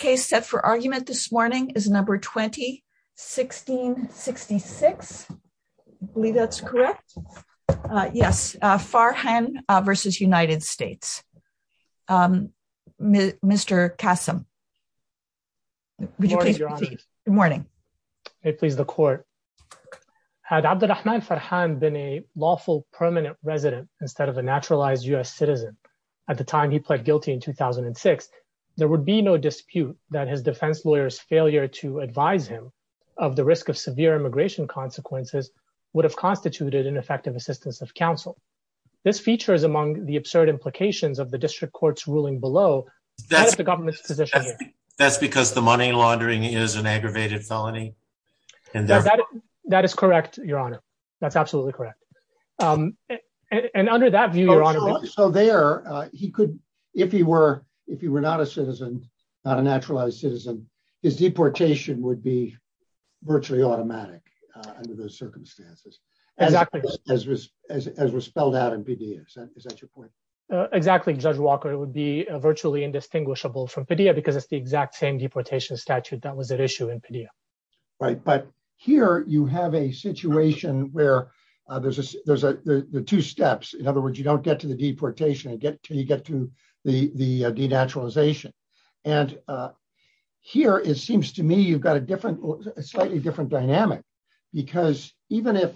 The first case set for argument this morning is number 20 1666. I believe that's correct. Yes, farhan versus United States. Mr. Kasim. Morning. Good morning, please the court had been a lawful permanent resident, instead of a naturalized US citizen. At the time he pled guilty in 2006, there would be no dispute that his defense lawyers failure to advise him of the risk of severe immigration consequences would have constituted an effective assistance of counsel. This feature is among the absurd implications of the district courts ruling below. That's the government's position. That's because the money laundering is an aggravated felony. And that is correct, Your Honor. That's absolutely correct. And under that view. So there, he could, if he were, if you were not a citizen, not a naturalized citizen is deportation would be virtually automatic. Under those circumstances, exactly, as was, as was spelled out in PDFs. Is that your point. Exactly. Judge Walker would be virtually indistinguishable from video because it's the exact same deportation statute that was an issue in video. Right, but here you have a situation where there's a, there's a two steps. In other words, you don't get to the deportation and get to you get to the the denaturalization. And here is seems to me you've got a different slightly different dynamic, because even if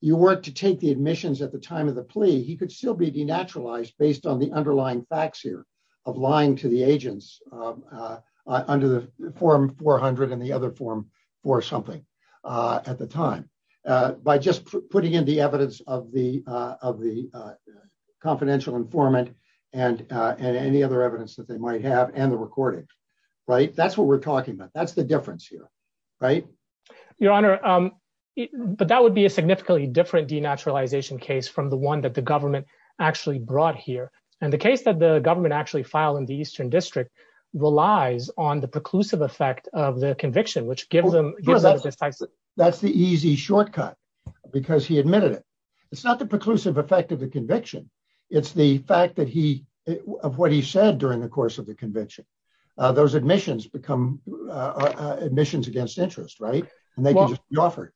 you were to take the admissions at the time of the plea he could still be denaturalized based on the underlying facts here of lying to the agents. Under the form 400 and the other form for something. At the time, by just putting in the evidence of the of the confidential informant, and, and any other evidence that they might have and the recording. Right, that's what we're talking about. That's the difference here. Right. Your Honor, but that would be a significantly different denaturalization case from the one that the government actually brought here, and the case that the government actually filed in the Eastern District relies on the preclusive effect of the conviction which gives them. That's the easy shortcut, because he admitted it. It's not the preclusive effect of the conviction. It's the fact that he of what he said during the course of the convention. Those admissions become admissions against interest right and they will offer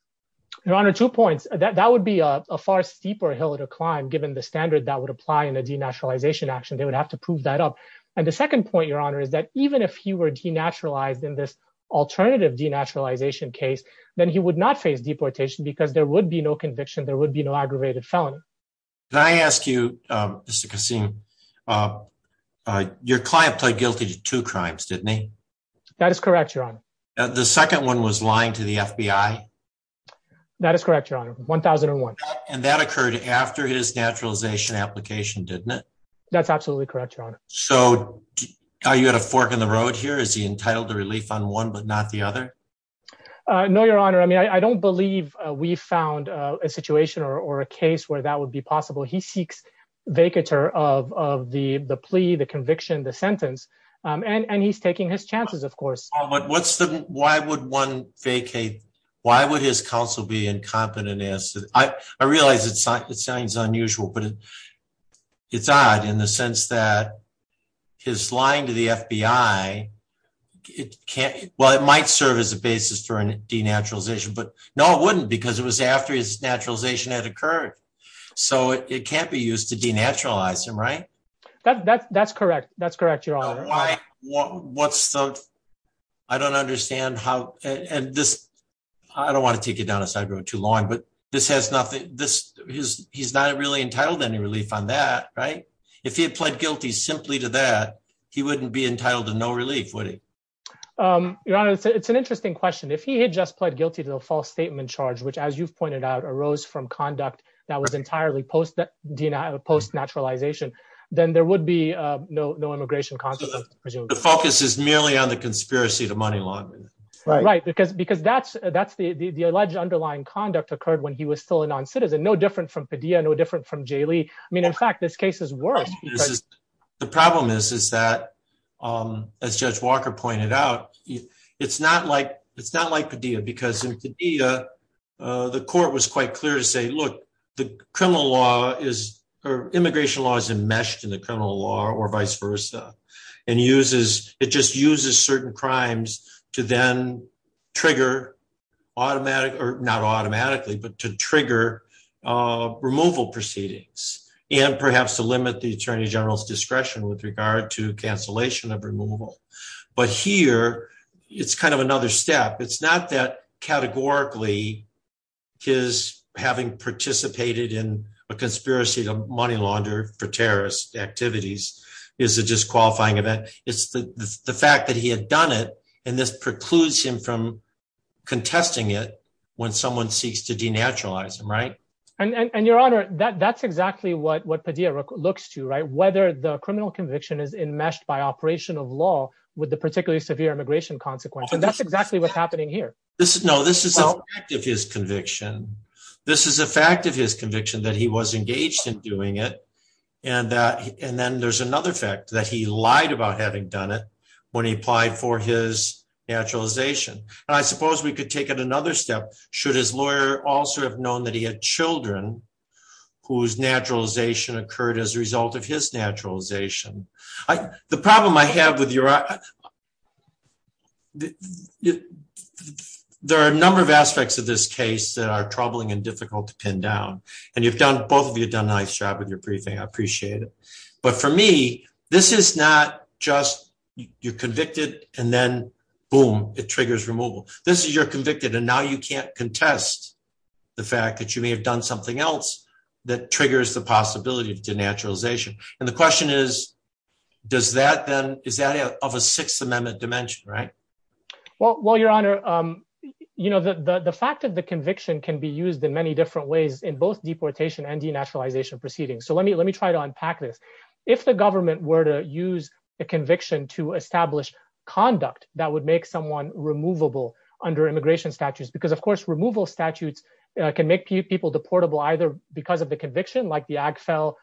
your honor two points that that would be a far steeper hill to climb given the standard that would apply in a denaturalization action they would have to prove that up. And the second point your honor is that even if he were denaturalized in this alternative denaturalization case, then he would not face deportation because there would be no conviction there would be no aggravated felon. I asked you, Mr. Kassim. Your client played guilty to two crimes didn't he. That is correct your honor. The second one was lying to the FBI. That is correct your honor 1001. And that occurred after his naturalization application didn't it. That's absolutely correct your honor. So, are you at a fork in the road here is he entitled to relief on one but not the other. No, your honor. I mean, I don't believe we found a situation or a case where that would be possible he seeks vacatur of the the plea the conviction the sentence, and he's taking his chances of course, but what's the, why would one vacate. Why would his counsel be incompetent as I realized it sounds unusual but it's odd in the sense that his line to the FBI. It can't well it might serve as a basis for a denaturalization but no wouldn't because it was after his naturalization had occurred. So it can't be used to denaturalize him right. That's correct. That's correct. What's the. I don't understand how, and this. I don't want to take it down a side road too long but this has nothing. This is, he's not really entitled any relief on that right. If he had pled guilty simply to that he wouldn't be entitled to no relief would he. Your Honor, it's an interesting question if he had just pled guilty to the false statement charge which as you've pointed out arose from conduct that was entirely post that denied a post naturalization, then there would be no no immigration. The focus is merely on the conspiracy to money laundering. Right, because because that's, that's the the alleged underlying conduct occurred when he was still a non citizen no different from Padilla no different from Jay Lee. I mean, in fact, this case is worse. The problem is, is that, as Judge Walker pointed out, it's not like it's not like the deal because the court was quite clear to say look, the criminal law is or immigration laws and meshed in the criminal law or vice versa, and uses, it just uses certain crimes to then trigger automatic or not automatically but to trigger removal proceedings, and perhaps to limit the Attorney General's discretion with regard to cancellation of removal. But here, it's kind of another step it's not that categorically his having participated in a conspiracy to money launder for terrorist activities is a disqualifying event, it's the fact that he had done it, and this precludes him from contesting it. When someone seeks to denaturalize them right and your honor that that's exactly what what Padilla looks to right whether the criminal conviction is in meshed by operation of law, with the particularly severe immigration consequence and that's exactly what's happening here. This is no this is his conviction. This is a fact of his conviction that he was engaged in doing it. And that, and then there's another fact that he lied about having done it when he applied for his naturalization, I suppose we could take it another step. Should his lawyer also have known that he had children, whose naturalization occurred as a result of his naturalization. I, the problem I have with your. There are a number of aspects of this case that are troubling and difficult to pin down, and you've done both of you done a nice job with your briefing I appreciate it. But for me, this is not just, you're convicted, and then boom, it triggers removal. This is you're convicted and now you can't contest the fact that you may have done something else that triggers the possibility of denaturalization. And the question is, does that then is that of a Sixth Amendment dimension right well well your honor. You know the fact of the conviction can be used in many different ways in both deportation and denaturalization proceedings so let me let me try to unpack this. If the government were to use a conviction to establish conduct that would make someone removable under immigration statutes because of course removal statutes can make people deportable either because of the conviction like the Agfel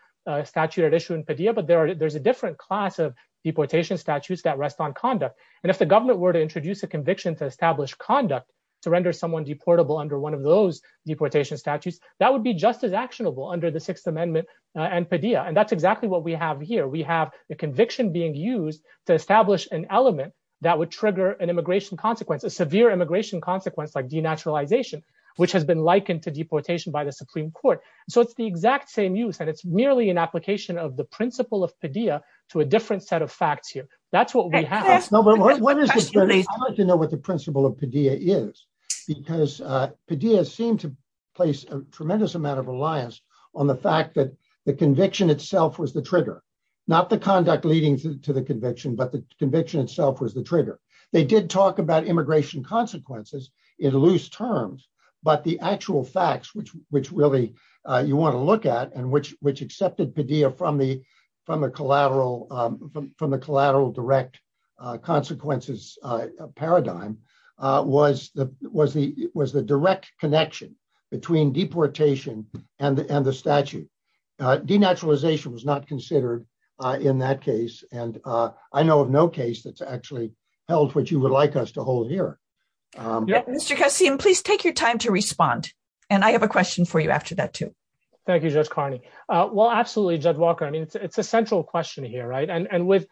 statute issue in Padilla but there are there's a different class of deportation statutes that rest on conduct. And if the government were to introduce a conviction to establish conduct to render someone deportable under one of those deportation statutes, that would be just as actionable under the Sixth Amendment and Padilla and that's exactly what we have here we have the conviction being used to establish an element that would trigger an immigration consequence a severe immigration consequence like denaturalization, which has been likened to deportation by the Supreme Court, so it's the exact same use and it's merely an application of the principle of Padilla to a different set of facts here. That's what we have. I wanted to know what the principle of Padilla is because Padilla seemed to place a tremendous amount of reliance on the fact that the conviction itself was the trigger, not the conduct leading to the conviction but the conviction itself was the trigger. They did talk about immigration consequences in loose terms, but the actual facts which really you want to look at and which accepted Padilla from the collateral direct consequences paradigm was the direct connection between deportation and the statute. Denaturalization was not considered in that case, and I know of no case that's actually held which you would like us to hold here. Mr. Kassim, please take your time to respond. And I have a question for you after that too. Thank you, Judge Carney. Well, absolutely, Judge Walker. I mean, it's a central question here. And with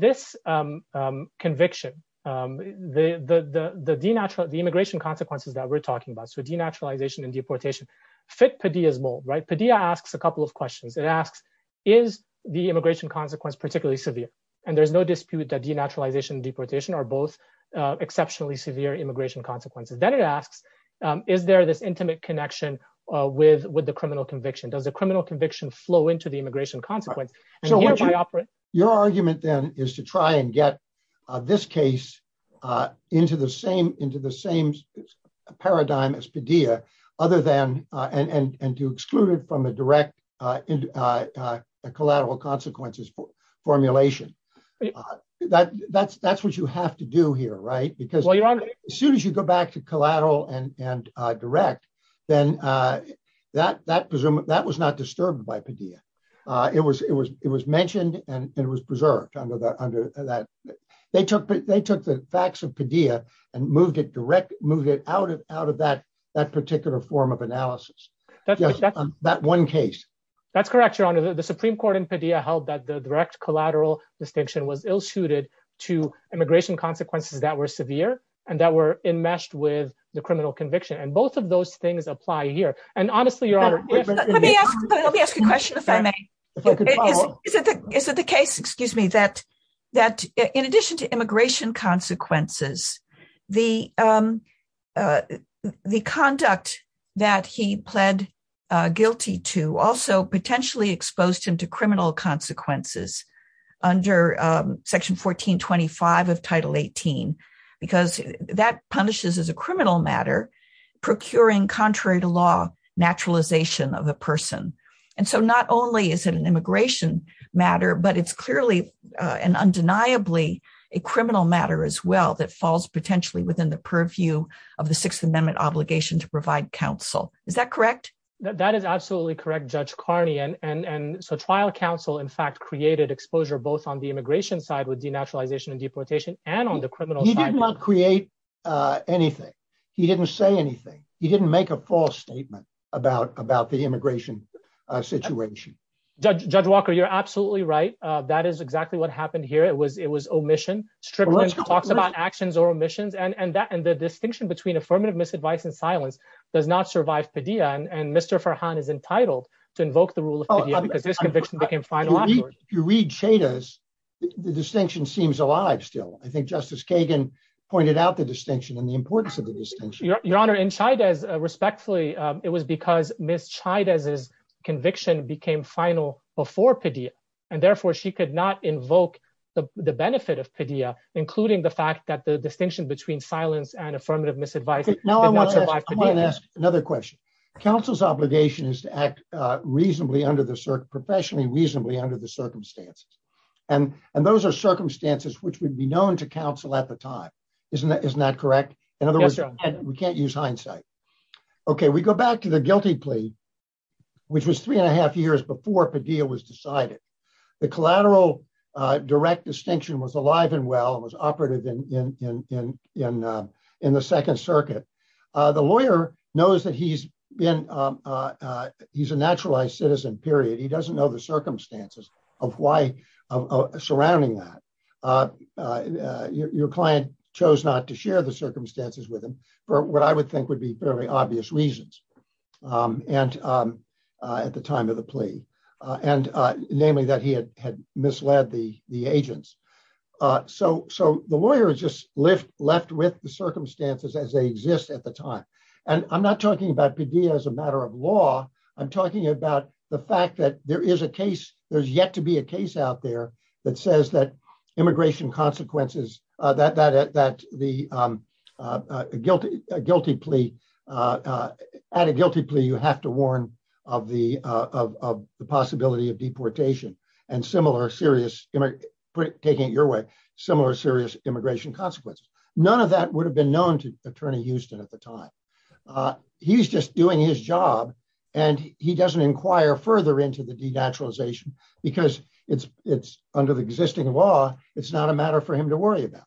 this conviction, the immigration consequences that we're talking about, so denaturalization and deportation, fit Padilla's mold. Padilla asks a couple of questions. It asks, is the immigration consequence particularly severe? And there's no dispute that denaturalization and deportation are both exceptionally severe immigration consequences. Then it asks, is there this intimate connection with the criminal conviction? Does a criminal conviction flow into the immigration consequence? Your argument then is to try and get this case into the same paradigm as Padilla, and to exclude it from a direct collateral consequences formulation. That's what you have to do here, right? Because as soon as you go back to collateral and direct, then that was not disturbed by Padilla. It was mentioned and it was preserved under that. They took the facts of Padilla and moved it out of that particular form of analysis. That one case. That's correct, Your Honor. The Supreme Court in Padilla held that the direct collateral distinction was ill suited to immigration consequences that were severe and that were enmeshed with the criminal conviction. And both of those things apply here. Let me ask a question if I may. Is it the case, excuse me, that in addition to immigration consequences, the conduct that he pled guilty to also potentially exposed him to criminal consequences under Section 1425 of Title 18? Because that punishes as a criminal matter, procuring contrary to law naturalization of a person. And so not only is it an immigration matter, but it's clearly and undeniably a criminal matter as well that falls potentially within the purview of the Sixth Amendment obligation to provide counsel. Is that correct? That is absolutely correct, Judge Carney. And so trial counsel, in fact, created exposure both on the immigration side with denaturalization and deportation and on the criminal side. He did not create anything. He didn't say anything. He didn't make a false statement about the immigration situation. Judge Walker, you're absolutely right. That is exactly what happened here. It was it was omission. Strickland talks about actions or omissions and that and the distinction between affirmative misadvice and silence does not survive Padilla. And Mr. Farhan is entitled to invoke the rule of Padilla because his conviction became final afterwards. If you read Chaydez, the distinction seems alive still. I think Justice Kagan pointed out the distinction and the importance of the distinction. Your Honor, in Chaydez, respectfully, it was because Ms. Chaydez's conviction became final before Padilla and therefore she could not invoke the benefit of Padilla, including the fact that the distinction between silence and affirmative misadvice did not survive Padilla. I want to ask another question. Counsel's obligation is to act reasonably under the circumstances, professionally reasonably under the circumstances. And those are circumstances which would be known to counsel at the time. Isn't that correct? We can't use hindsight. Okay, we go back to the guilty plea, which was three and a half years before Padilla was decided. The collateral direct distinction was alive and well and was operative in the Second Circuit. The lawyer knows that he's a naturalized citizen, period. He doesn't know the circumstances surrounding that. Your client chose not to share the circumstances with him for what I would think would be fairly obvious reasons at the time of the plea, namely that he had misled the agents. So the lawyer is just left with the circumstances as they exist at the time. And I'm not talking about Padilla as a matter of law. I'm talking about the fact that there is a case. There's a case out there that says that immigration consequences, that the guilty plea, at a guilty plea, you have to warn of the possibility of deportation and similar serious, taking it your way, similar serious immigration consequences. None of that would have been known to Attorney Houston at the time. He's just doing his job and he doesn't inquire further into the denaturalization because it's under the existing law. It's not a matter for him to worry about.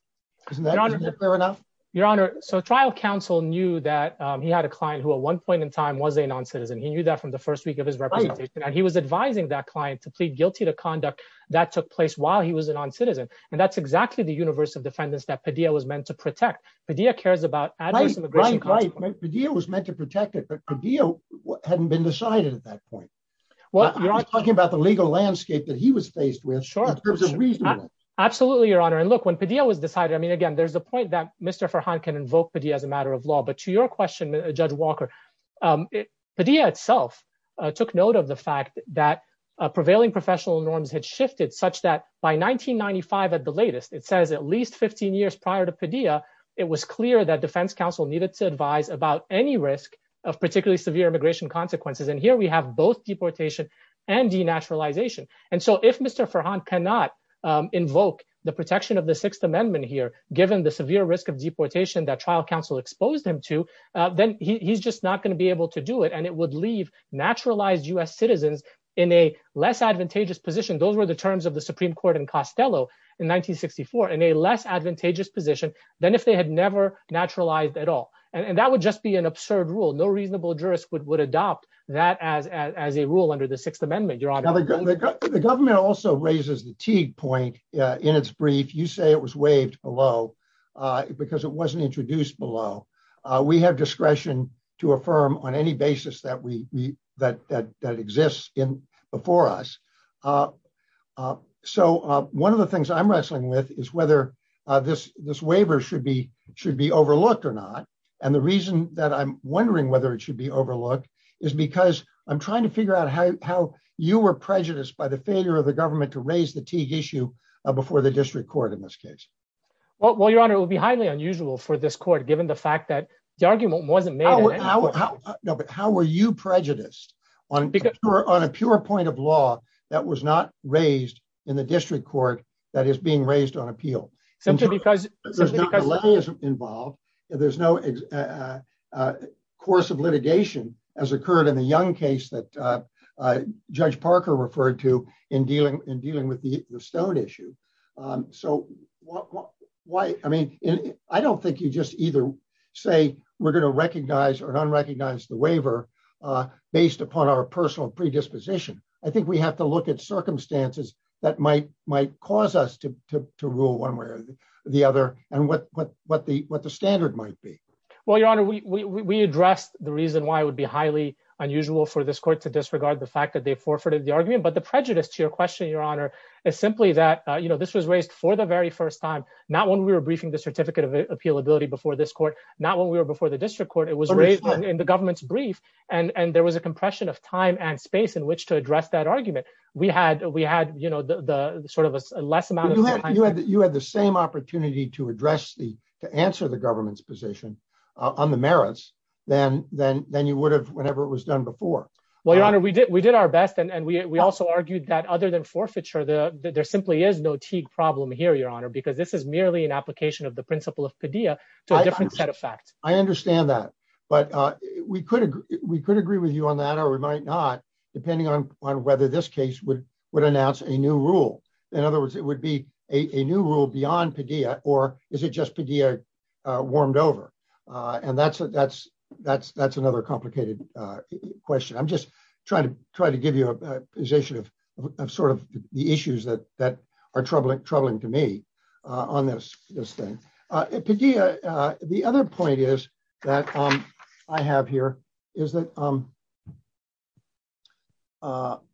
Isn't that clear enough? Your Honor, so trial counsel knew that he had a client who at one point in time was a non-citizen. He knew that from the first week of his representation. And he was advising that client to plead guilty to conduct that took place while he was a non-citizen. And that's exactly the universe of defendants that Padilla was meant to protect. Right, Padilla was meant to protect it, but Padilla hadn't been decided at that point. Well, you're talking about the legal landscape that he was faced with. Absolutely, Your Honor. And look, when Padilla was decided, I mean, again, there's a point that Mr. Farhan can invoke Padilla as a matter of law. But to your question, Judge Walker, Padilla itself took note of the fact that prevailing professional norms had shifted such that by 1995 at the latest, it says at least 15 years prior to Padilla, it was clear that defense counsel needed to advise about any risk of particularly severe immigration consequences. And here we have both deportation and denaturalization. And so if Mr. Farhan cannot invoke the protection of the Sixth Amendment here, given the severe risk of deportation that trial counsel exposed him to, then he's just not going to be able to do it. And it would leave naturalized U.S. citizens in a less advantageous position. Those were the terms of the Supreme Court in Costello in 1964, in a less advantageous position than if they had never naturalized at all. And that would just be an absurd rule. No reasonable jurist would adopt that as a rule under the Sixth Amendment, Your Honor. The government also raises the Teague point in its brief. You say it was waived below because it wasn't introduced below. We have discretion to affirm on any basis that exists before us. So one of the things I'm wrestling with is whether this waiver should be overlooked or not. And the reason that I'm wondering whether it should be overlooked is because I'm trying to figure out how you were prejudiced by the failure of the government to raise the Teague issue before the district court in this case. Well, Your Honor, it would be highly unusual for this court, given the fact that the argument wasn't made. But how were you prejudiced on a pure point of law that was not raised in the district court that is being raised on appeal? There's no reliance involved. There's no course of litigation as occurred in the Young case that Judge Parker referred to in dealing with the Stone issue. So, I don't think you just either say we're going to recognize or unrecognize the waiver based upon our personal predisposition. I think we have to look at circumstances that might cause us to rule one way or the other and what the standard might be. Well, Your Honor, we addressed the reason why it would be highly unusual for this court to disregard the fact that they forfeited the argument. But the prejudice to your question, Your Honor, is simply that this was raised for the very first time, not when we were briefing the certificate of appealability before this court, not when we were before the district court. It was raised in the government's brief, and there was a compression of time and space in which to address that argument. We had the sort of a less amount of time. You had the same opportunity to address, to answer the government's position on the merits than you would have whenever it was done before. Well, Your Honor, we did our best, and we also argued that other than forfeiture, there simply is no Teague problem here, Your Honor, because this is merely an application of the principle of Padilla to a different set of facts. I understand that, but we could agree with you on that, or we might not, depending on whether this case would announce a new rule. In other words, it would be a new rule beyond Padilla, or is it just Padilla warmed over? And that's another complicated question. I'm just trying to give you a position of sort of the issues that are troubling to me on this thing. Padilla, the other point is that I have here is that what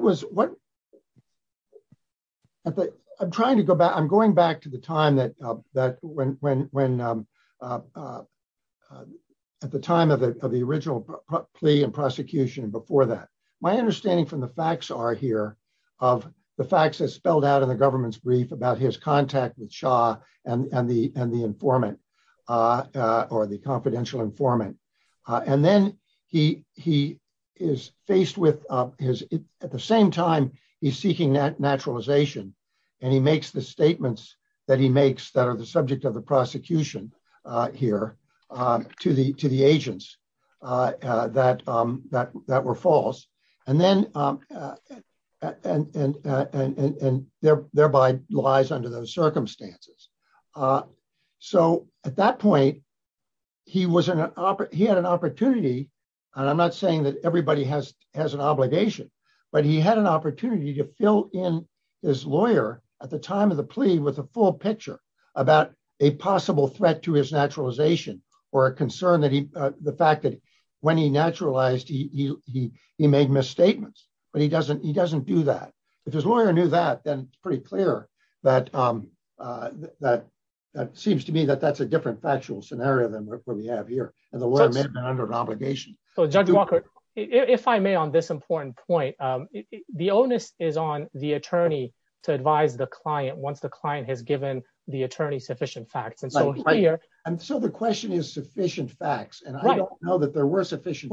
was what I'm trying to go back I'm going back to the time that that when when when at the time of the original plea and prosecution before that. My understanding from the facts are here of the facts that spelled out in the government's brief about his contact with Shah and the and the informant or the confidential informant. And then he he is faced with his at the same time, he's seeking that naturalization, and he makes the statements that he makes that are the subject of the prosecution here to the to the agents that that that were false. And then, and thereby lies under those circumstances. So, at that point, he was an opera, he had an opportunity. And I'm not saying that everybody has has an obligation, but he had an opportunity to fill in his lawyer at the time of the plea with a full picture about a possible threat to his naturalization or a concern that he, the fact that when he naturalized he he he made misstatements, but he doesn't he doesn't do that. If his lawyer knew that then pretty clear that that that seems to me that that's a different factual scenario than what we have here, under obligation. So Judge Walker, if I may, on this important point, the onus is on the attorney to advise the client once the client has given the attorney sufficient facts and so right here. And so the question is sufficient facts and I don't know that there were sufficient.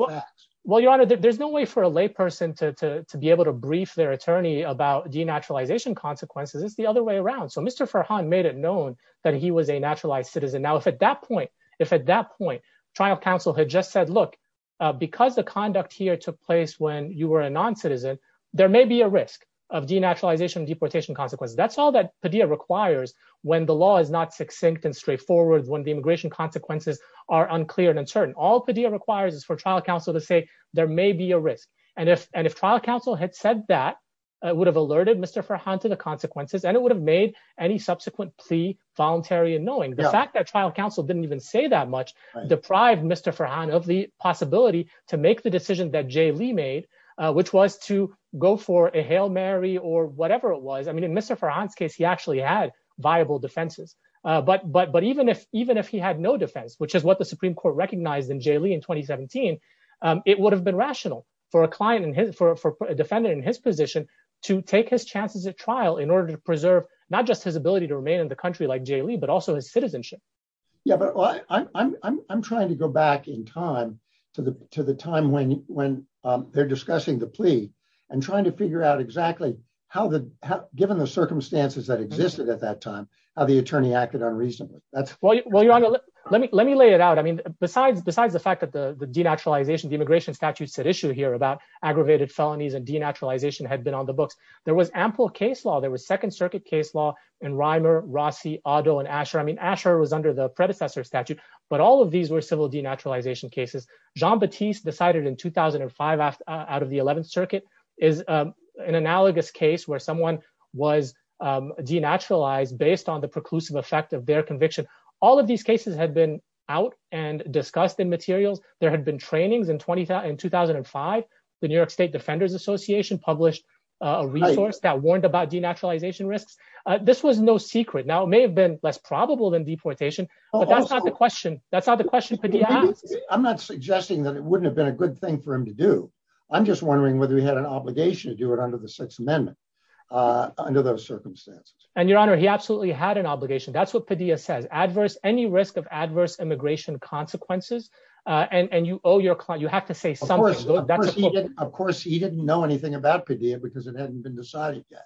Well, your honor, there's no way for a lay person to be able to brief their attorney about denaturalization consequences, it's the other way around. So Mr. Farhan made it known that he was a naturalized citizen. Now if at that point, if at that point, trial counsel had just said, look, because the conduct here took place when you were a non citizen, there may be a risk of denaturalization deportation consequences. That's all that Padilla requires when the law is not succinct and straightforward when the immigration consequences are unclear and uncertain. All Padilla requires is for trial counsel to say there may be a risk. And if and if trial counsel had said that would have alerted Mr. Farhan to the consequences and it would have made any subsequent plea voluntary and knowing the fact that trial counsel didn't even say that much deprived Mr. Farhan of the possibility to make the decision that Jay Lee made, which was to go for a Hail Mary or whatever it was I mean in Mr. Farhan's case he actually had viable defenses, but but but even if even if he had no defense, which is what the Supreme Court recognized in Jay Lee in 2017, it would have been rational for a client and his for a defendant in his position to take his chances at trial in order to preserve, not just his ability to remain in the country like Jay Lee but also his citizenship. Yeah, but I'm trying to go back in time to the, to the time when, when they're discussing the plea and trying to figure out exactly how the given the circumstances that existed at that time, how the attorney acted on recently. That's what you want to let me let me lay it out I mean, besides besides the fact that the denaturalization the immigration statute said issue here about aggravated felonies and denaturalization had been on the books. There was ample case law there was Second Circuit case law in Reimer, Rossi, Otto and Asher I mean Asher was under the predecessor statute, but all of these were civil denaturalization cases. Jean Baptiste decided in 2005 out of the 11th Circuit is an analogous case where someone was denaturalized based on the preclusive effect of their conviction. All of these cases had been out and discussed in materials, there had been trainings and 2010 2005, the New York State Defenders Association published a resource that warned about denaturalization risks. This was no secret now may have been less probable than deportation, but that's not the question. That's not the question. I'm not suggesting that it wouldn't have been a good thing for him to do. I'm just wondering whether he had an obligation to do it under the Sixth Amendment. Under those circumstances, and Your Honor, he absolutely had an obligation. That's what Padilla says adverse any risk of adverse immigration consequences, and you owe your client, you have to say something. Of course, he didn't know anything about Padilla because it hadn't been decided yet.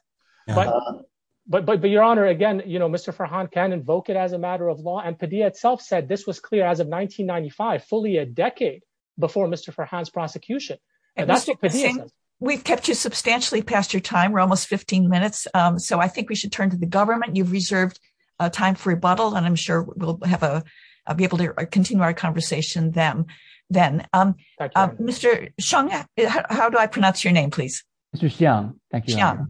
But but but Your Honor again you know Mr Farhan can invoke it as a matter of law and Padilla itself said this was clear as of 1995 fully a decade before Mr Farhan's prosecution. We've kept you substantially past your time we're almost 15 minutes. So I think we should turn to the government you've reserved time for rebuttal and I'm sure we'll have a be able to continue our conversation them. Then, Mr. Sean, how do I pronounce your name please. Thank you.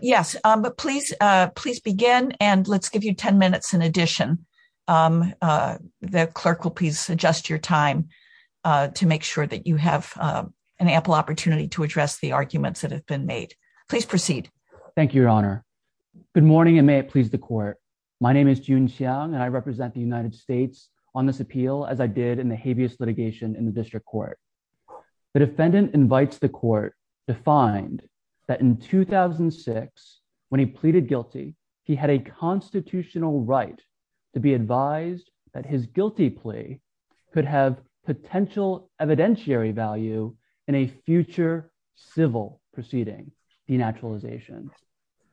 Yes, but please, please begin and let's give you 10 minutes in addition, the clerk will please adjust your time to make sure that you have an ample opportunity to address the arguments that have been made, please proceed. Thank you, Your Honor. Good morning and may it please the court. My name is June Sean and I represent the United States on this appeal as I did in the habeas litigation in the district court. The defendant invites the court to find that in 2006, when he pleaded guilty. He had a constitutional right to be advised that his guilty plea could have potential evidentiary value in a future civil proceeding, the naturalization.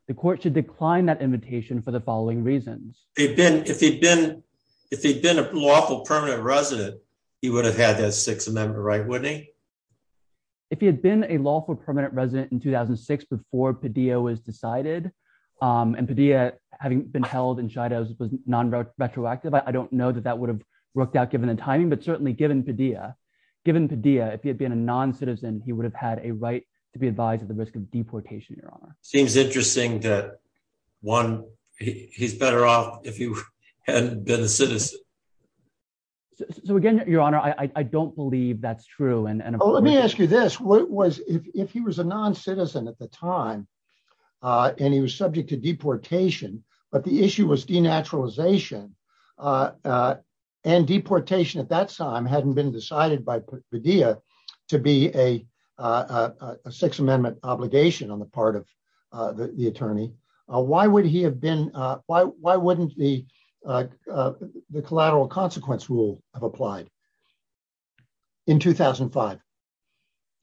The court should decline that invitation for the following reasons, they've been if they've been if they've been a lawful permanent resident, he would have had that six a member right with a. If he had been a lawful permanent resident in 2006 before video is decided, and Padilla, having been held in China was non retroactive I don't know that that would have worked out given the timing but certainly given Padilla given Padilla if you've been a non citizen, he would have had a right to be advised at the risk of deportation, Your Honor, seems interesting that one, he's better off if you had been a citizen. So again, Your Honor, I don't believe that's true and let me ask you this, what was, if he was a non citizen at the time, and he was subject to deportation, but the issue was denaturalization and deportation at that time hadn't been decided by video to be a six rule have applied in 2005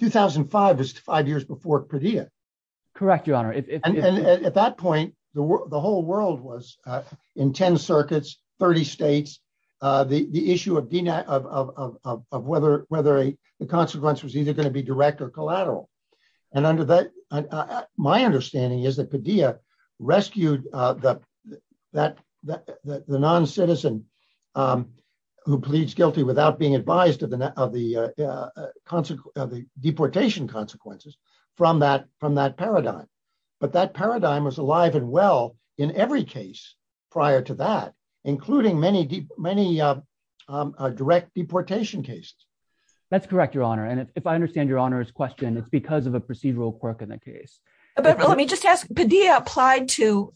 2005 is five years before Padilla. Correct, Your Honor, if at that point, the whole world was in 10 circuits 30 states. The issue of DNA of whether whether a consequence was either going to be direct or collateral. And under that, my understanding is that Padilla rescued that that that the non citizen who pleads guilty without being advised to the of the consequences of the deportation consequences from that from that paradigm, but that paradigm was alive and well, in every prior to that, including many, many direct deportation case. That's correct, Your Honor, and if I understand Your Honor's question it's because of a procedural quirk in the case. But let me just ask Padilla applied to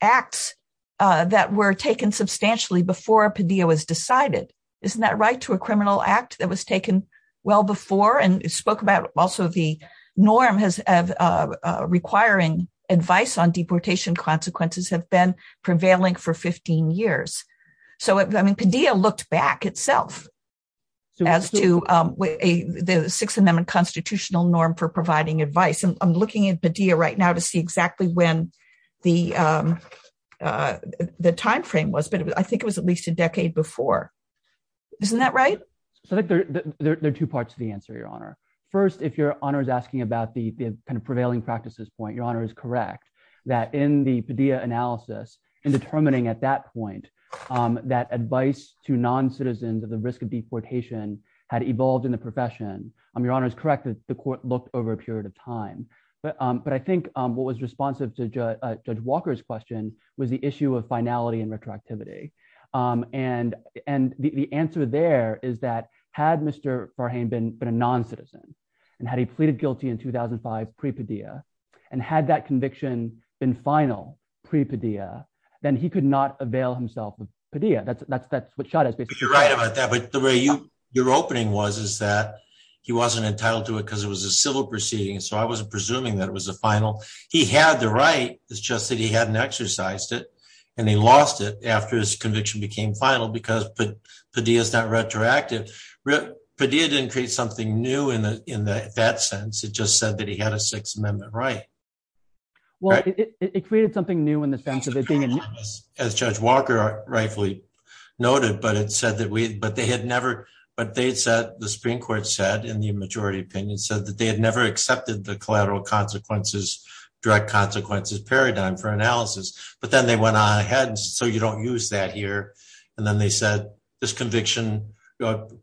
acts that were taken substantially before Padilla was decided. Isn't that right to a criminal act that was taken well before and spoke about also the norm has requiring advice on deportation consequences have been prevailing for 15 years. So I mean Padilla looked back itself as to a six amendment constitutional norm for providing advice and I'm looking at Padilla right now to see exactly when the the timeframe was but I think it was at least a decade before. Isn't that right. So there are two parts of the answer, Your Honor. First, if you're on is asking about the kind of prevailing practices point Your Honor is correct that in the Padilla analysis and determining at that point that advice to non citizens of the And the answer there is that had Mr. For him been been a non citizen, and had he pleaded guilty in 2005 pre Padilla, and had that conviction in final pre Padilla, then he could not avail himself with Padilla that's that's that's what shot at me. You're right about that but the way you, your opening was is that he wasn't entitled to it because it was a civil proceeding so I wasn't presuming that it was a final, he had the right is just that he hadn't exercised it, and they lost it after his conviction became final because Padilla is not retroactive. Padilla didn't create something new in the, in that sense it just said that he had a Sixth Amendment right. Well, it created something new in the sense of it being as Judge Walker rightfully noted but it said that we, but they had never, but they said the Supreme Court said in the majority opinion said that they had never accepted the collateral consequences, direct consequences paradigm for analysis, but then they went on ahead so you don't use that here. And then they said, this conviction,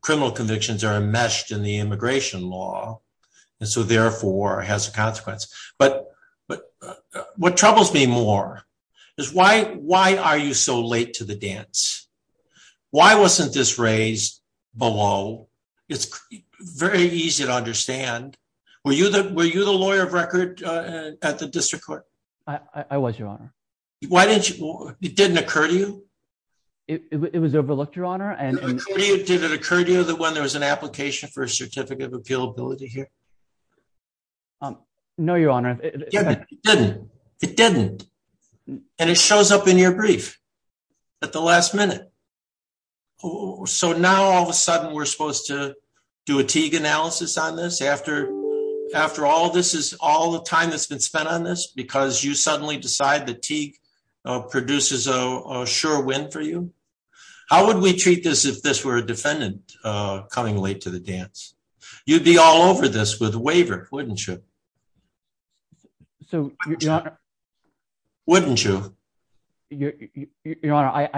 criminal convictions are enmeshed in the immigration law. And so therefore has a consequence, but, but what troubles me more is why, why are you so late to the dance. Why wasn't this raised below. It's very easy to understand. Were you that were you the lawyer of record at the district court. I was your honor. Why did you didn't occur to you. It was overlooked your honor and did it occur to you that when there was an application for a certificate of appeal ability here. No, your honor. It didn't. And it shows up in your brief at the last minute. Oh, so now all of a sudden we're supposed to do a teague analysis on this after, after all this is all the time that's been spent on this because you suddenly decide the teague produces a sure win for you. How would we treat this if this were a defendant coming late to the dance. You'd be all over this with waiver, wouldn't you. So, wouldn't you. Your Honor,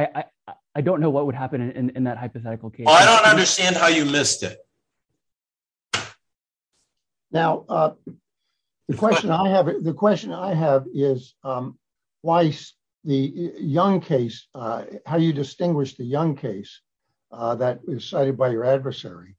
I don't know what would happen in that hypothetical case I don't understand how you list it. Now, the question I have the question I have is why the young case, how you distinguish the young case that was cited by your adversary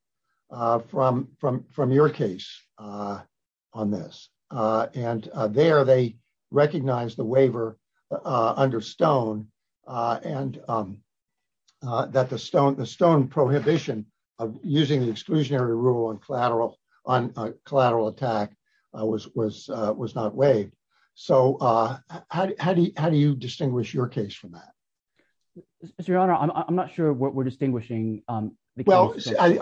from from from your case on this. And there they recognize the waiver under stone, and that the stone the stone prohibition of using the exclusionary rule and collateral on collateral attack was was was not way. So, how do you how do you distinguish your case from that. Your Honor, I'm not sure what we're distinguishing. Well,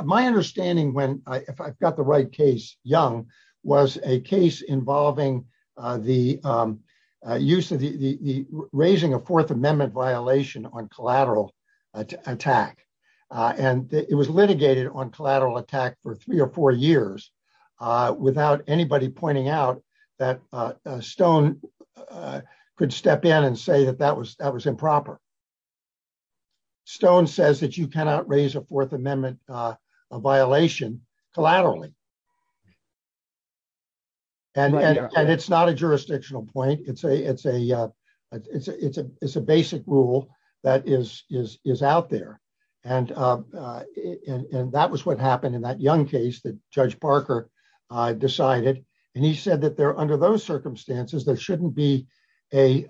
my understanding when I got the right case, young was a case involving the use of the raising a Fourth Amendment violation on collateral attack. And it was litigated on collateral attack for three or four years without anybody pointing out that stone could step in and say that that was that was improper stone says that you cannot raise a Fourth Amendment violation collaterally. And it's not a jurisdictional point it's a it's a, it's a, it's a, it's a basic rule that is, is, is out there. And that was what happened in that young case that Judge Parker decided, and he said that there under those circumstances there shouldn't be a.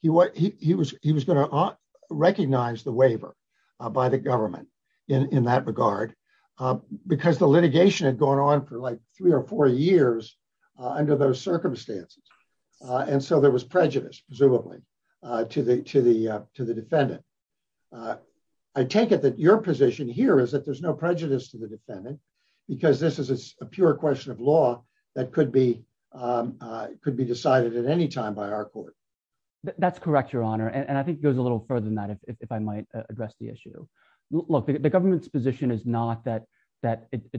He what he was, he was going to recognize the waiver by the government in that regard, because the litigation had gone on for like three or four years. Under those circumstances. And so there was prejudice presumably to the to the to the defendant. I take it that your position here is that there's no prejudice to the defendant, because this is a pure question of law that could be could be decided at any time by our court. That's correct, Your Honor, and I think goes a little further than that, if I might address the issue. Look, the government's position is not that that it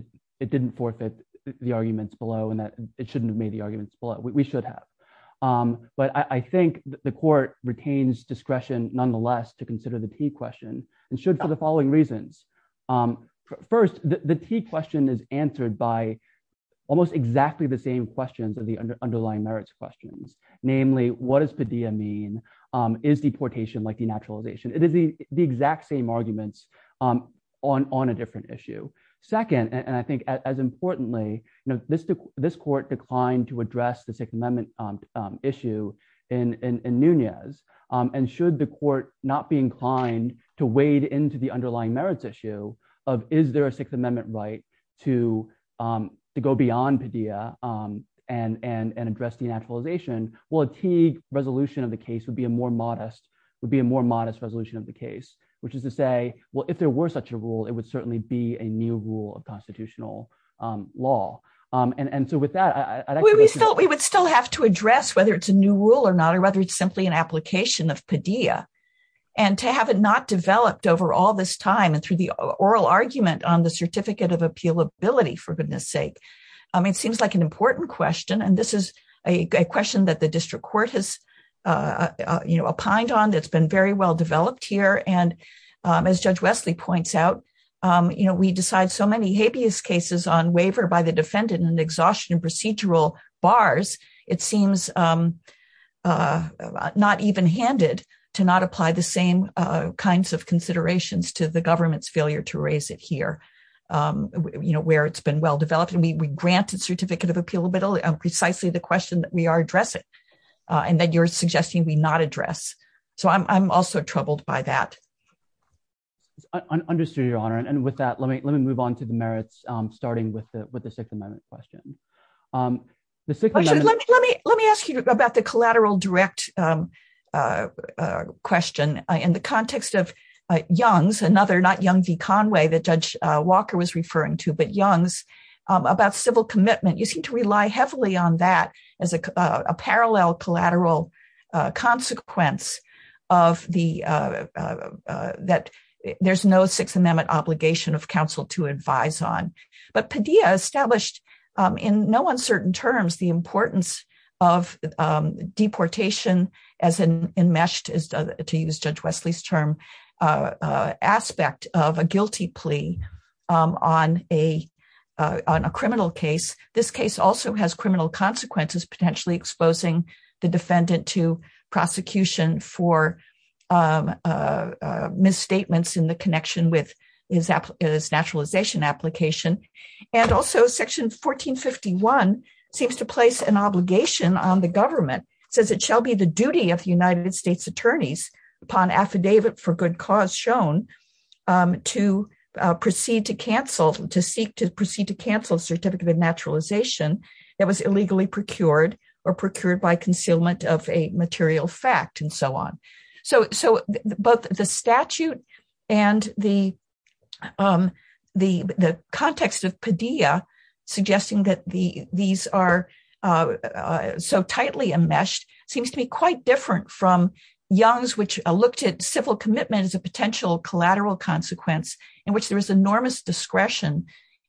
didn't forfeit the arguments below and that it shouldn't have made the arguments below we should have. But I think the court retains discretion, nonetheless, to consider the key question, and should for the following reasons. First, the key question is answered by almost exactly the same questions of the underlying merits questions, namely, what is the DM mean is deportation like the naturalization, it is the, the exact same arguments on on a different issue. Second, and I think as importantly, you know, this, this court declined to address the Sixth Amendment issue in Nunez, and should the court, not be inclined to wade into the underlying merits issue of is there a Sixth Amendment right to to go beyond and and and address the naturalization will achieve resolution of the case would be a more modest would be a more modest resolution of the case, which is to say, well, if there were such a rule, it would certainly be a new rule of constitutional law. And so with that, I thought we would still have to address whether it's a new rule or not or whether it's simply an application of Padilla, and to have it not developed over all this time and through the oral argument on the certificate of appeal ability for goodness sake. I mean, it seems like an important question and this is a question that the district court has, you know, opined on that's been very well developed here and as Judge Wesley points out, you know, we decide so many habeas cases on waiver by the defendant and exhaustion procedural bars, it seems not even handed to not apply the same kinds of considerations to the government's failure to raise it here. You know where it's been well developed and we granted certificate of appeal middle and precisely the question that we are addressing, and then you're suggesting we not address. So I'm also troubled by that. Understood, Your Honor. And with that, let me move on to the merits, starting with the Sixth Amendment question. Let me ask you about the collateral direct question in the context of Young's, another not Young v. Conway that Judge Walker was referring to, but Young's about civil commitment. You seem to rely heavily on that as a parallel collateral consequence that there's no Sixth Amendment obligation of counsel to advise on. But Padilla established in no uncertain terms the importance of deportation as enmeshed, to use Judge Wesley's term, aspect of a guilty plea on a criminal case. This case also has criminal consequences, potentially exposing the defendant to prosecution for misstatements in the connection with his naturalization application. And also Section 1451 seems to place an obligation on the government, says it shall be the duty of the United States attorneys upon affidavit for good cause shown to proceed to cancel, to seek to proceed to cancel certificate of naturalization that was illegally procured or procured by concealment of a material fact and so on. So both the statute and the context of Padilla suggesting that these are so tightly enmeshed seems to be quite different from Young's, which looked at civil commitment as a potential collateral consequence in which there is enormous discretion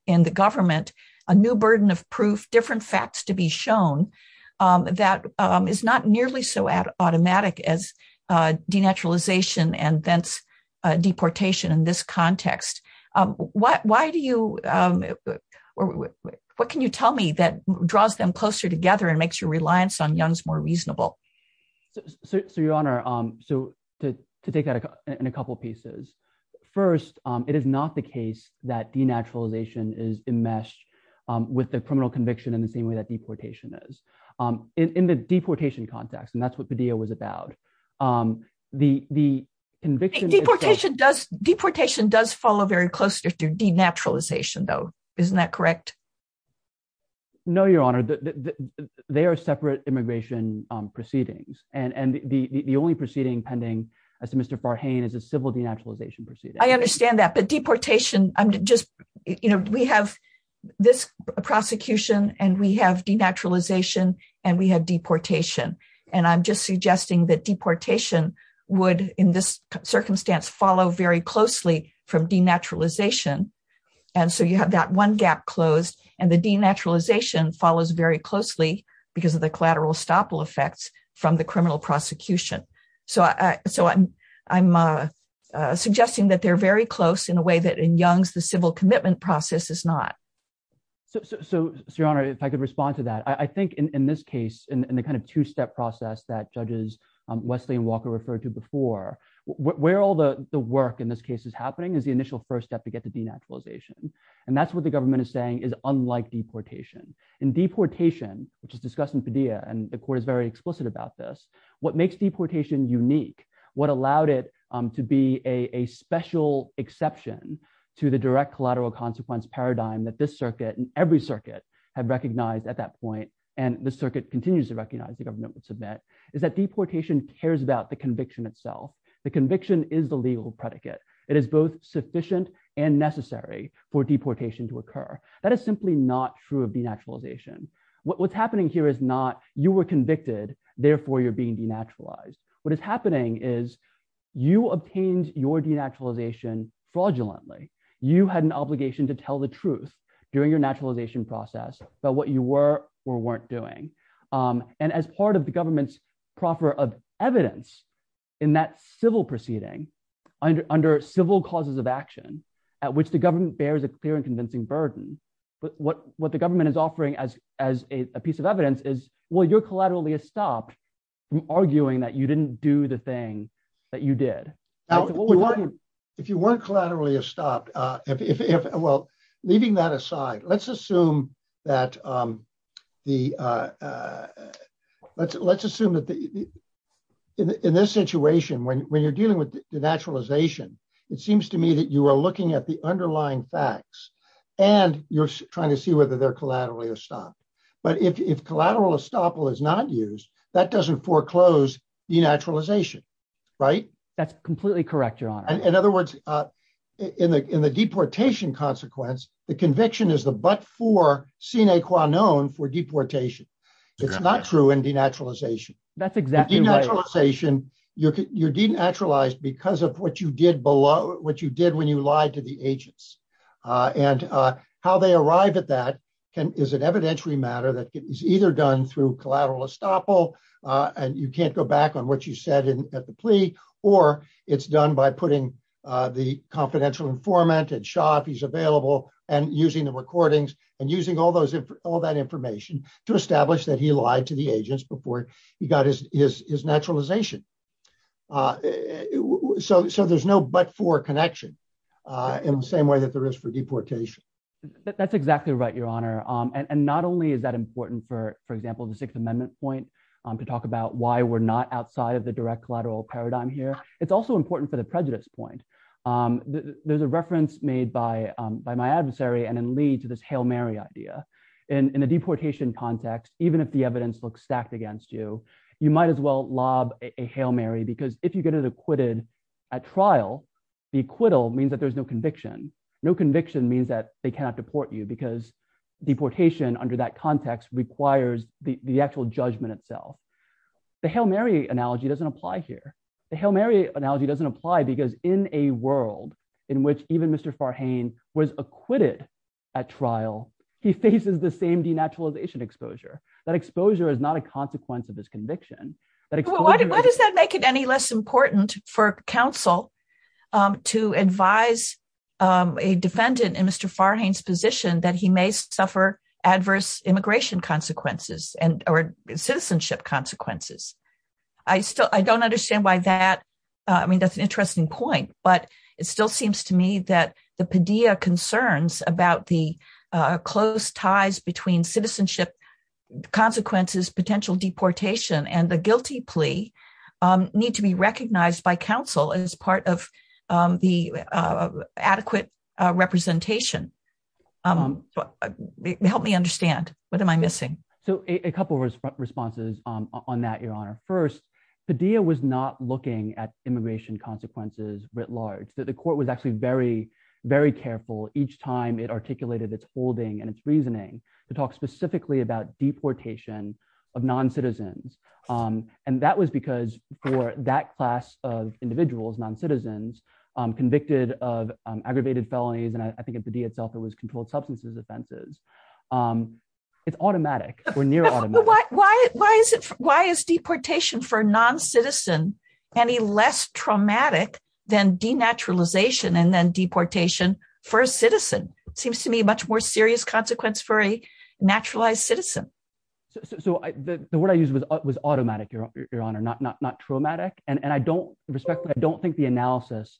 in the government, a new burden of proof, different facts to be shown, that is not nearly so automatic as denaturalization and thence deportation in this context. What can you tell me that draws them closer together and makes your reliance on Young's more reasonable? So, Your Honor, to take that in a couple of pieces. First, it is not the case that denaturalization is enmeshed with the criminal conviction in the same way that deportation is. In the deportation context, and that's what Padilla was about, the conviction… Deportation does follow very closely through denaturalization though, isn't that correct? No, Your Honor. They are separate immigration proceedings and the only proceeding pending as to Mr. Farhane is a civil denaturalization proceeding. I understand that, but deportation, we have this prosecution and we have denaturalization and we have deportation. And I'm just suggesting that deportation would, in this circumstance, follow very closely from denaturalization. And so you have that one gap closed and the denaturalization follows very closely because of the collateral estoppel effects from the criminal prosecution. So I'm suggesting that they're very close in a way that in Young's the civil commitment process is not. So, Your Honor, if I could respond to that. I think in this case, in the kind of two-step process that Judges Wesley and Walker referred to before, where all the work in this case is happening is the initial first step to get to denaturalization. And that's what the government is saying is unlike deportation. In deportation, which is discussed in Padilla, and the court is very explicit about this, what makes deportation unique, what allowed it to be a special exception to the direct collateral consequence paradigm that this circuit and every circuit had recognized at that point, and the circuit continues to recognize the government would submit, is that deportation cares about the conviction itself. The conviction is the legal predicate. It is both sufficient and necessary for deportation to occur. That is simply not true of denaturalization. What's happening here is not you were convicted, therefore you're being denaturalized. What is happening is you obtained your denaturalization fraudulently. You had an obligation to tell the truth during your naturalization process about what you were or weren't doing. And as part of the government's proffer of evidence in that civil proceeding, under civil causes of action, at which the government bears a clear and convincing burden, what the government is offering as a piece of evidence is, well, you're collaterally estopped from arguing that you didn't do the thing that you did. If you weren't collaterally estopped, well, leaving that aside, let's assume that in this situation, when you're dealing with denaturalization, it seems to me that you are looking at the underlying facts and you're trying to see whether they're collaterally estopped. But if collateral estoppel is not used, that doesn't foreclose denaturalization, right? That's completely correct, Your Honor. In other words, in the deportation consequence, the conviction is the but-for sine qua non for deportation. It's not true in denaturalization. That's exactly right. In denaturalization, you're denaturalized because of what you did when you lied to the agents. And how they arrive at that is an evidentiary matter that is either done through collateral estoppel, and you can't go back on what you said at the plea, or it's done by putting the confidential informant and Shaw, if he's available, and using the recordings and using all that information to establish that he lied to the agents before he got his naturalization. So there's no but-for connection in the same way that there is for deportation. That's exactly right, Your Honor. And not only is that important for, for example, the Sixth Amendment point to talk about why we're not outside of the direct collateral paradigm here, it's also important for the prejudice point. There's a reference made by my adversary and then lead to this Hail Mary idea. In a deportation context, even if the evidence looks stacked against you, you might as well lob a Hail Mary because if you get it acquitted at trial, the acquittal means that there's no conviction. No conviction means that they cannot deport you because deportation under that context requires the actual judgment itself. The Hail Mary analogy doesn't apply here. The Hail Mary analogy doesn't apply because in a world in which even Mr. Farhane was acquitted at trial, he faces the same denaturalization exposure. That exposure is not a consequence of this conviction. Why does that make it any less important for counsel to advise a defendant in Mr. Farhane's position that he may suffer adverse immigration consequences and or citizenship consequences? I still, I don't understand why that, I mean, that's an interesting point, but it still seems to me that the Padilla concerns about the close ties between citizenship consequences, potential deportation and the guilty plea need to be recognized by counsel as part of the adequate representation. Help me understand, what am I missing? So a couple of responses on that, Your Honor. First, Padilla was not looking at immigration consequences writ large. The court was actually very, very careful each time it articulated its holding and its reasoning to talk specifically about deportation of non-citizens. And that was because for that class of individuals, non-citizens, convicted of aggravated felonies, and I think in Padilla itself it was controlled substances offenses. It's automatic or near automatic. Why is it, why is deportation for non-citizen any less traumatic than denaturalization and then deportation for a citizen? Seems to me much more serious consequence for a naturalized citizen. So the word I used was automatic, Your Honor, not traumatic. And I don't respect, I don't think the analysis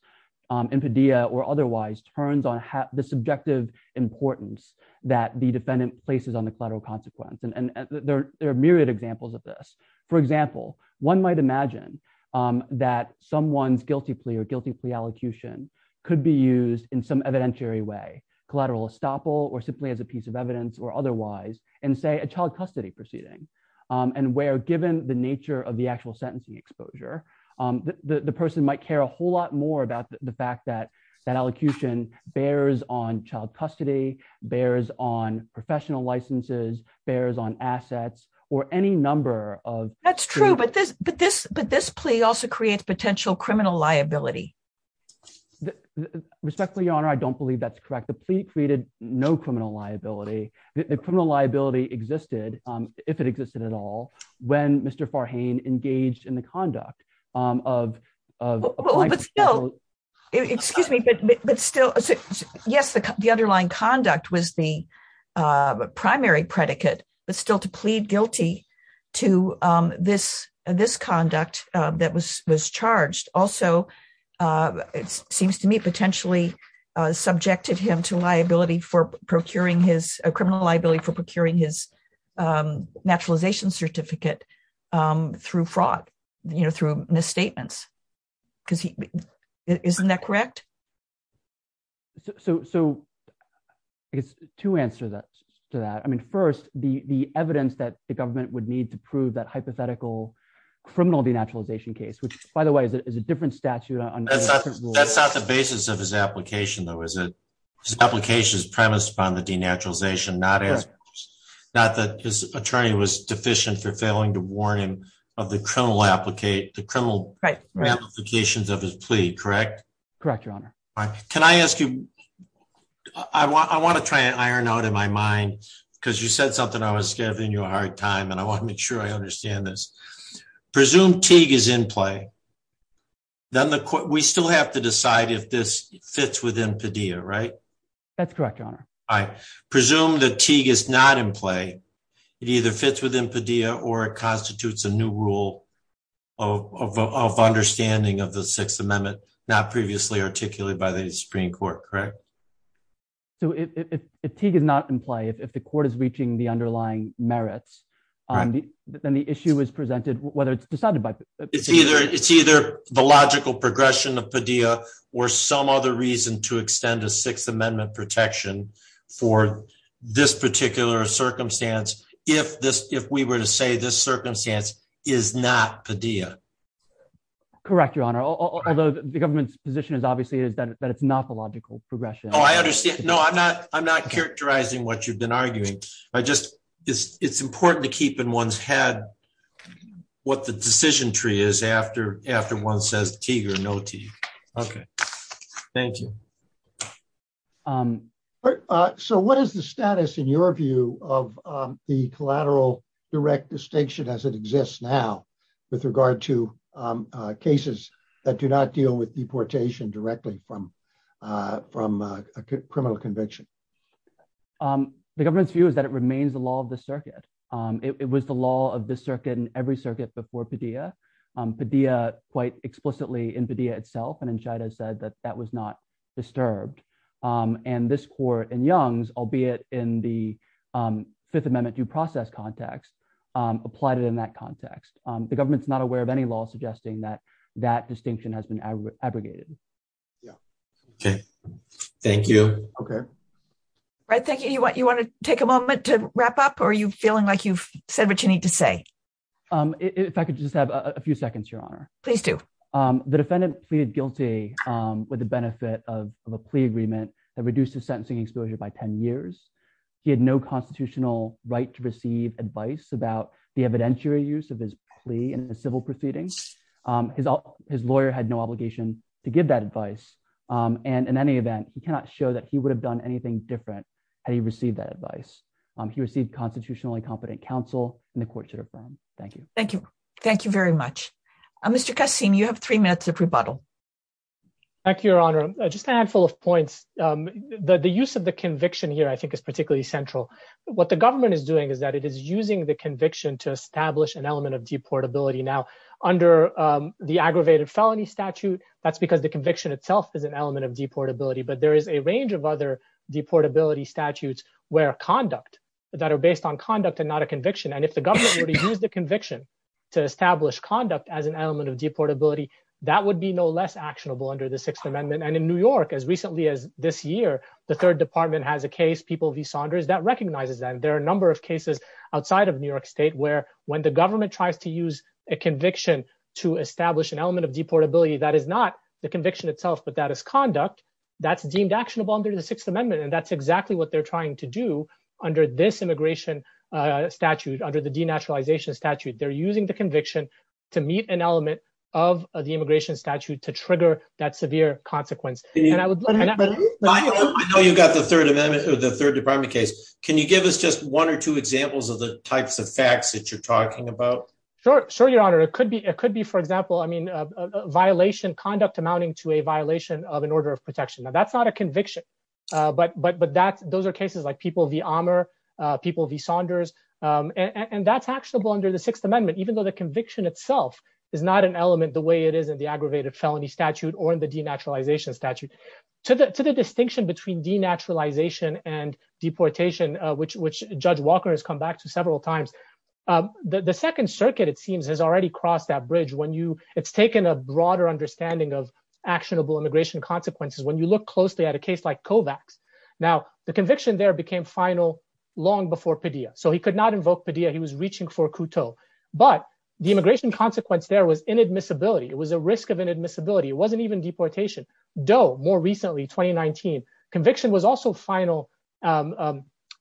in Padilla or otherwise turns on the subjective importance that the defendant places on the collateral consequence. And there are myriad examples of this. For example, one might imagine that someone's guilty plea or guilty plea allocution could be used in some evidentiary way, collateral estoppel or simply as a piece of evidence or otherwise, and say a child custody proceeding. And where given the nature of the actual sentencing exposure, the person might care a whole lot more about the fact that that allocution bears on child custody, bears on professional licenses, bears on assets, or any number of... That's true, but this plea also creates potential criminal liability. Respectfully, Your Honor, I don't believe that's correct. The plea created no criminal liability. The criminal liability existed, if it existed at all, when Mr. Farhane engaged in the conduct of... Excuse me, but still, yes, the underlying conduct was the primary predicate, but still to plead guilty to this conduct that was charged also seems to me potentially subjected him to liability for procuring his... Isn't that correct? So, to answer that, I mean, first, the evidence that the government would need to prove that hypothetical criminal denaturalization case, which, by the way, is a different statute... That's not the basis of his application, though, is it? His application is premised upon the denaturalization, not that his attorney was deficient for failing to warn him of the criminal applications of his plea, correct? Correct, Your Honor. Can I ask you... I want to try and iron out in my mind, because you said something I was giving you a hard time, and I want to make sure I understand this. Presume Teague is in play, then we still have to decide if this fits within Padilla, right? That's correct, Your Honor. I presume that Teague is not in play. It either fits within Padilla or constitutes a new rule of understanding of the Sixth Amendment, not previously articulated by the Supreme Court, correct? So, if Teague is not in play, if the court is reaching the underlying merits, then the issue is presented, whether it's decided by... for this particular circumstance, if we were to say this circumstance is not Padilla. Correct, Your Honor, although the government's position is obviously that it's not the logical progression. Oh, I understand. No, I'm not characterizing what you've been arguing. It's important to keep in one's head what the decision tree is after one says Teague or no Teague. Okay. Thank you. So what is the status, in your view, of the collateral direct distinction as it exists now with regard to cases that do not deal with deportation directly from a criminal conviction? The government's view is that it remains the law of the circuit. It was the law of this circuit and every circuit before Padilla. Padilla, quite explicitly in Padilla itself and in Shida, said that that was not disturbed. And this court in Young's, albeit in the Fifth Amendment due process context, applied it in that context. The government's not aware of any law suggesting that that distinction has been abrogated. Yeah. Okay. Thank you. Okay. Right. Thank you. You want to take a moment to wrap up or are you feeling like you've said what you need to say? If I could just have a few seconds, Your Honor. Please do. The defendant pleaded guilty with the benefit of a plea agreement that reduces sentencing exposure by 10 years. He had no constitutional right to receive advice about the evidentiary use of his plea in the civil proceedings. His lawyer had no obligation to give that advice. And in any event, we cannot show that he would have done anything different had he received that advice. He received constitutionally competent counsel and the court should affirm. Thank you. Thank you. Thank you very much. Mr. Kassim, you have three minutes of rebuttal. Thank you, Your Honor. Just a handful of points. The use of the conviction here, I think, is particularly central. What the government is doing is that it is using the conviction to establish an element of deportability. Now, under the aggravated felony statute, that's because the conviction itself is an element of deportability. But there is a range of other deportability statutes where conduct that are based on conduct and not a conviction. And if the government were to use the conviction to establish conduct as an element of deportability, that would be no less actionable under the Sixth Amendment. And in New York, as recently as this year, the Third Department has a case, People v. Saunders, that recognizes that. There are a number of cases outside of New York state where when the government tries to use a conviction to establish an element of deportability, that is not the conviction itself, but that is conduct that's deemed actionable under the Sixth Amendment. And that's exactly what they're trying to do under this immigration statute, under the denaturalization statute. They're using the conviction to meet an element of the immigration statute to trigger that severe consequence. And I know you've got the Third Amendment or the Third Department case. Can you give us just one or two examples of the types of facts that you're talking about? Sure. Sure, Your Honor. It could be it could be, for example, I mean, a violation, conduct amounting to a violation of an order of protection. Now, that's not a conviction. But but but that those are cases like People v. Amr, People v. Saunders. And that's actionable under the Sixth Amendment, even though the conviction itself is not an element the way it is in the aggravated felony statute or in the denaturalization statute. To the to the distinction between denaturalization and deportation, which Judge Walker has come back to several times. The Second Circuit, it seems, has already crossed that bridge when you it's taken a broader understanding of actionable immigration consequences. When you look closely at a case like Kovacs. Now, the conviction there became final long before Padilla. So he could not invoke Padilla. He was reaching for a couteau. But the immigration consequence there was inadmissibility. It was a risk of inadmissibility. It wasn't even deportation, though. More recently, 2019 conviction was also final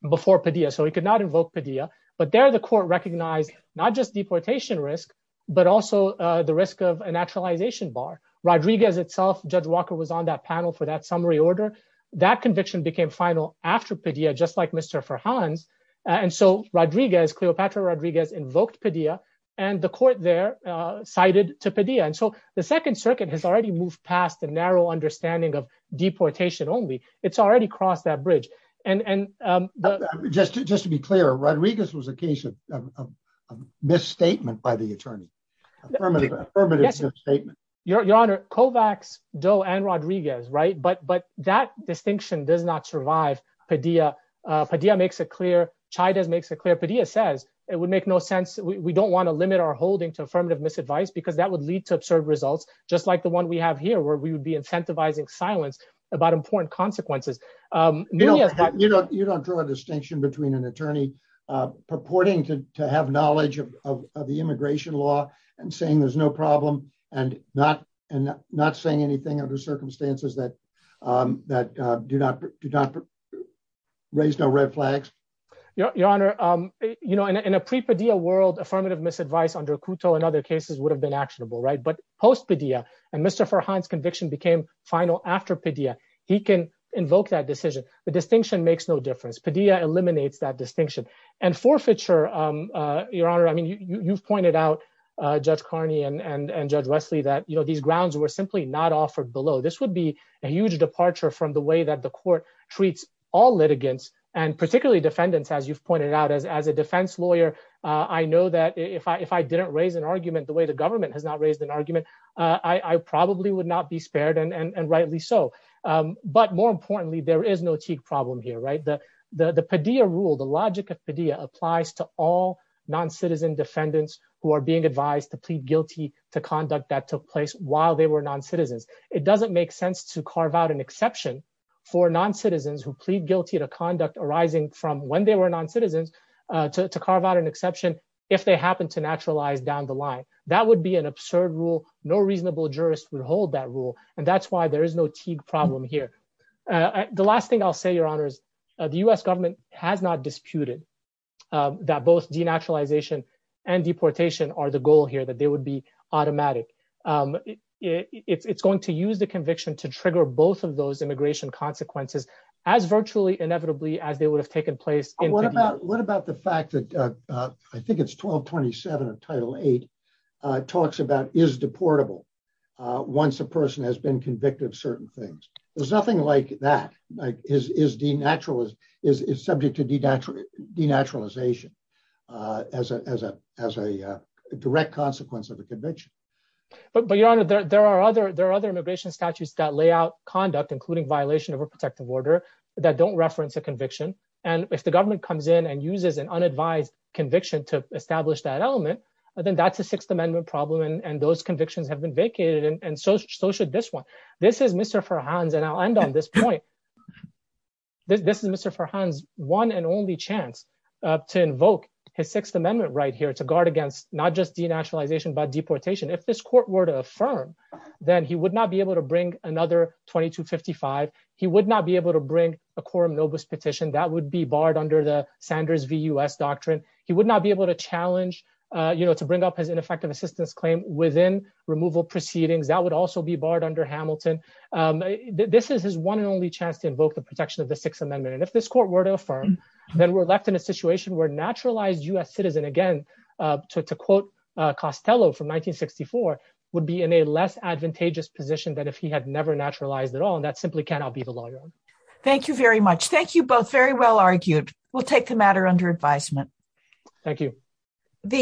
before Padilla, so he could not invoke Padilla. But there the court recognized not just deportation risk, but also the risk of a naturalization bar. Rodriguez itself, Judge Walker, was on that panel for that summary order. That conviction became final after Padilla, just like Mr. Farhan's. And so Rodriguez, Cleopatra Rodriguez, invoked Padilla and the court there cited to Padilla. And so the Second Circuit has already moved past the narrow understanding of deportation only. It's already crossed that bridge. And just just to be clear, Rodriguez was a case of a misstatement by the attorney. Affirmative statement. Your Honor, Kovacs, Doe and Rodriguez. Right. But but that distinction does not survive Padilla. Padilla makes it clear. Chavez makes it clear. Padilla says it would make no sense. We don't want to limit our holding to affirmative misadvice because that would lead to absurd results, just like the one we have here, where we would be incentivizing silence about important consequences. You know, you don't draw a distinction between an attorney purporting to have knowledge of the immigration law and saying there's no problem and not and not saying anything under circumstances that that do not do not raise no red flags. Your Honor, you know, in a pre-Padilla world, affirmative misadvice under Couto and other cases would have been actionable. Right. But post Padilla and Mr. Farhan's conviction became final after Padilla, he can invoke that decision. The distinction makes no difference. Padilla eliminates that distinction and forfeiture. Your Honor, I mean, you've pointed out, Judge Carney and Judge Wesley, that, you know, these grounds were simply not offered below. This would be a huge departure from the way that the court treats all litigants and particularly defendants, as you've pointed out, as as a defense lawyer. I know that if I if I didn't raise an argument the way the government has not raised an argument, I probably would not be spared. And rightly so. But more importantly, there is no problem here. Right. The Padilla rule, the logic of Padilla applies to all non-citizen defendants who are being advised to plead guilty to conduct that took place while they were non-citizens. It doesn't make sense to carve out an exception for non-citizens who plead guilty to conduct arising from when they were non-citizens to carve out an exception. If they happen to naturalize down the line, that would be an absurd rule. No reasonable jurist would hold that rule. And that's why there is no Teague problem here. The last thing I'll say, Your Honor, is the U.S. government has not disputed that both denaturalization and deportation are the goal here, that they would be automatic. It's going to use the conviction to trigger both of those immigration consequences as virtually inevitably as they would have taken place. What about what about the fact that I think it's 1227 of Title eight talks about is deportable once a person has been convicted of certain things? There's nothing like that is denaturalized, is subject to denaturalization as a direct consequence of a conviction. But Your Honor, there are other immigration statutes that lay out conduct, including violation of a protective order that don't reference a conviction. And if the government comes in and uses an unadvised conviction to establish that element, then that's a Sixth Amendment problem. And those convictions have been vacated. And so should this one. This is Mr. Farhan's and I'll end on this point. This is Mr. Farhan's one and only chance to invoke his Sixth Amendment right here to guard against not just denaturalization, but deportation. If this court were to affirm, then he would not be able to bring another 2255. He would not be able to bring a quorum novus petition that would be barred under the Sanders v. U.S. doctrine. He would not be able to challenge, you know, to bring up his ineffective assistance claim within removal proceedings. That would also be barred under Hamilton. This is his one and only chance to invoke the protection of the Sixth Amendment. And if this court were to affirm that we're left in a situation where naturalized U.S. citizen, again, to quote Costello from 1964, would be in a less advantageous position than if he had never naturalized at all. And that simply cannot be the lawyer. Thank you very much. Thank you both. Very well argued. We'll take the matter under advisement. Thank you.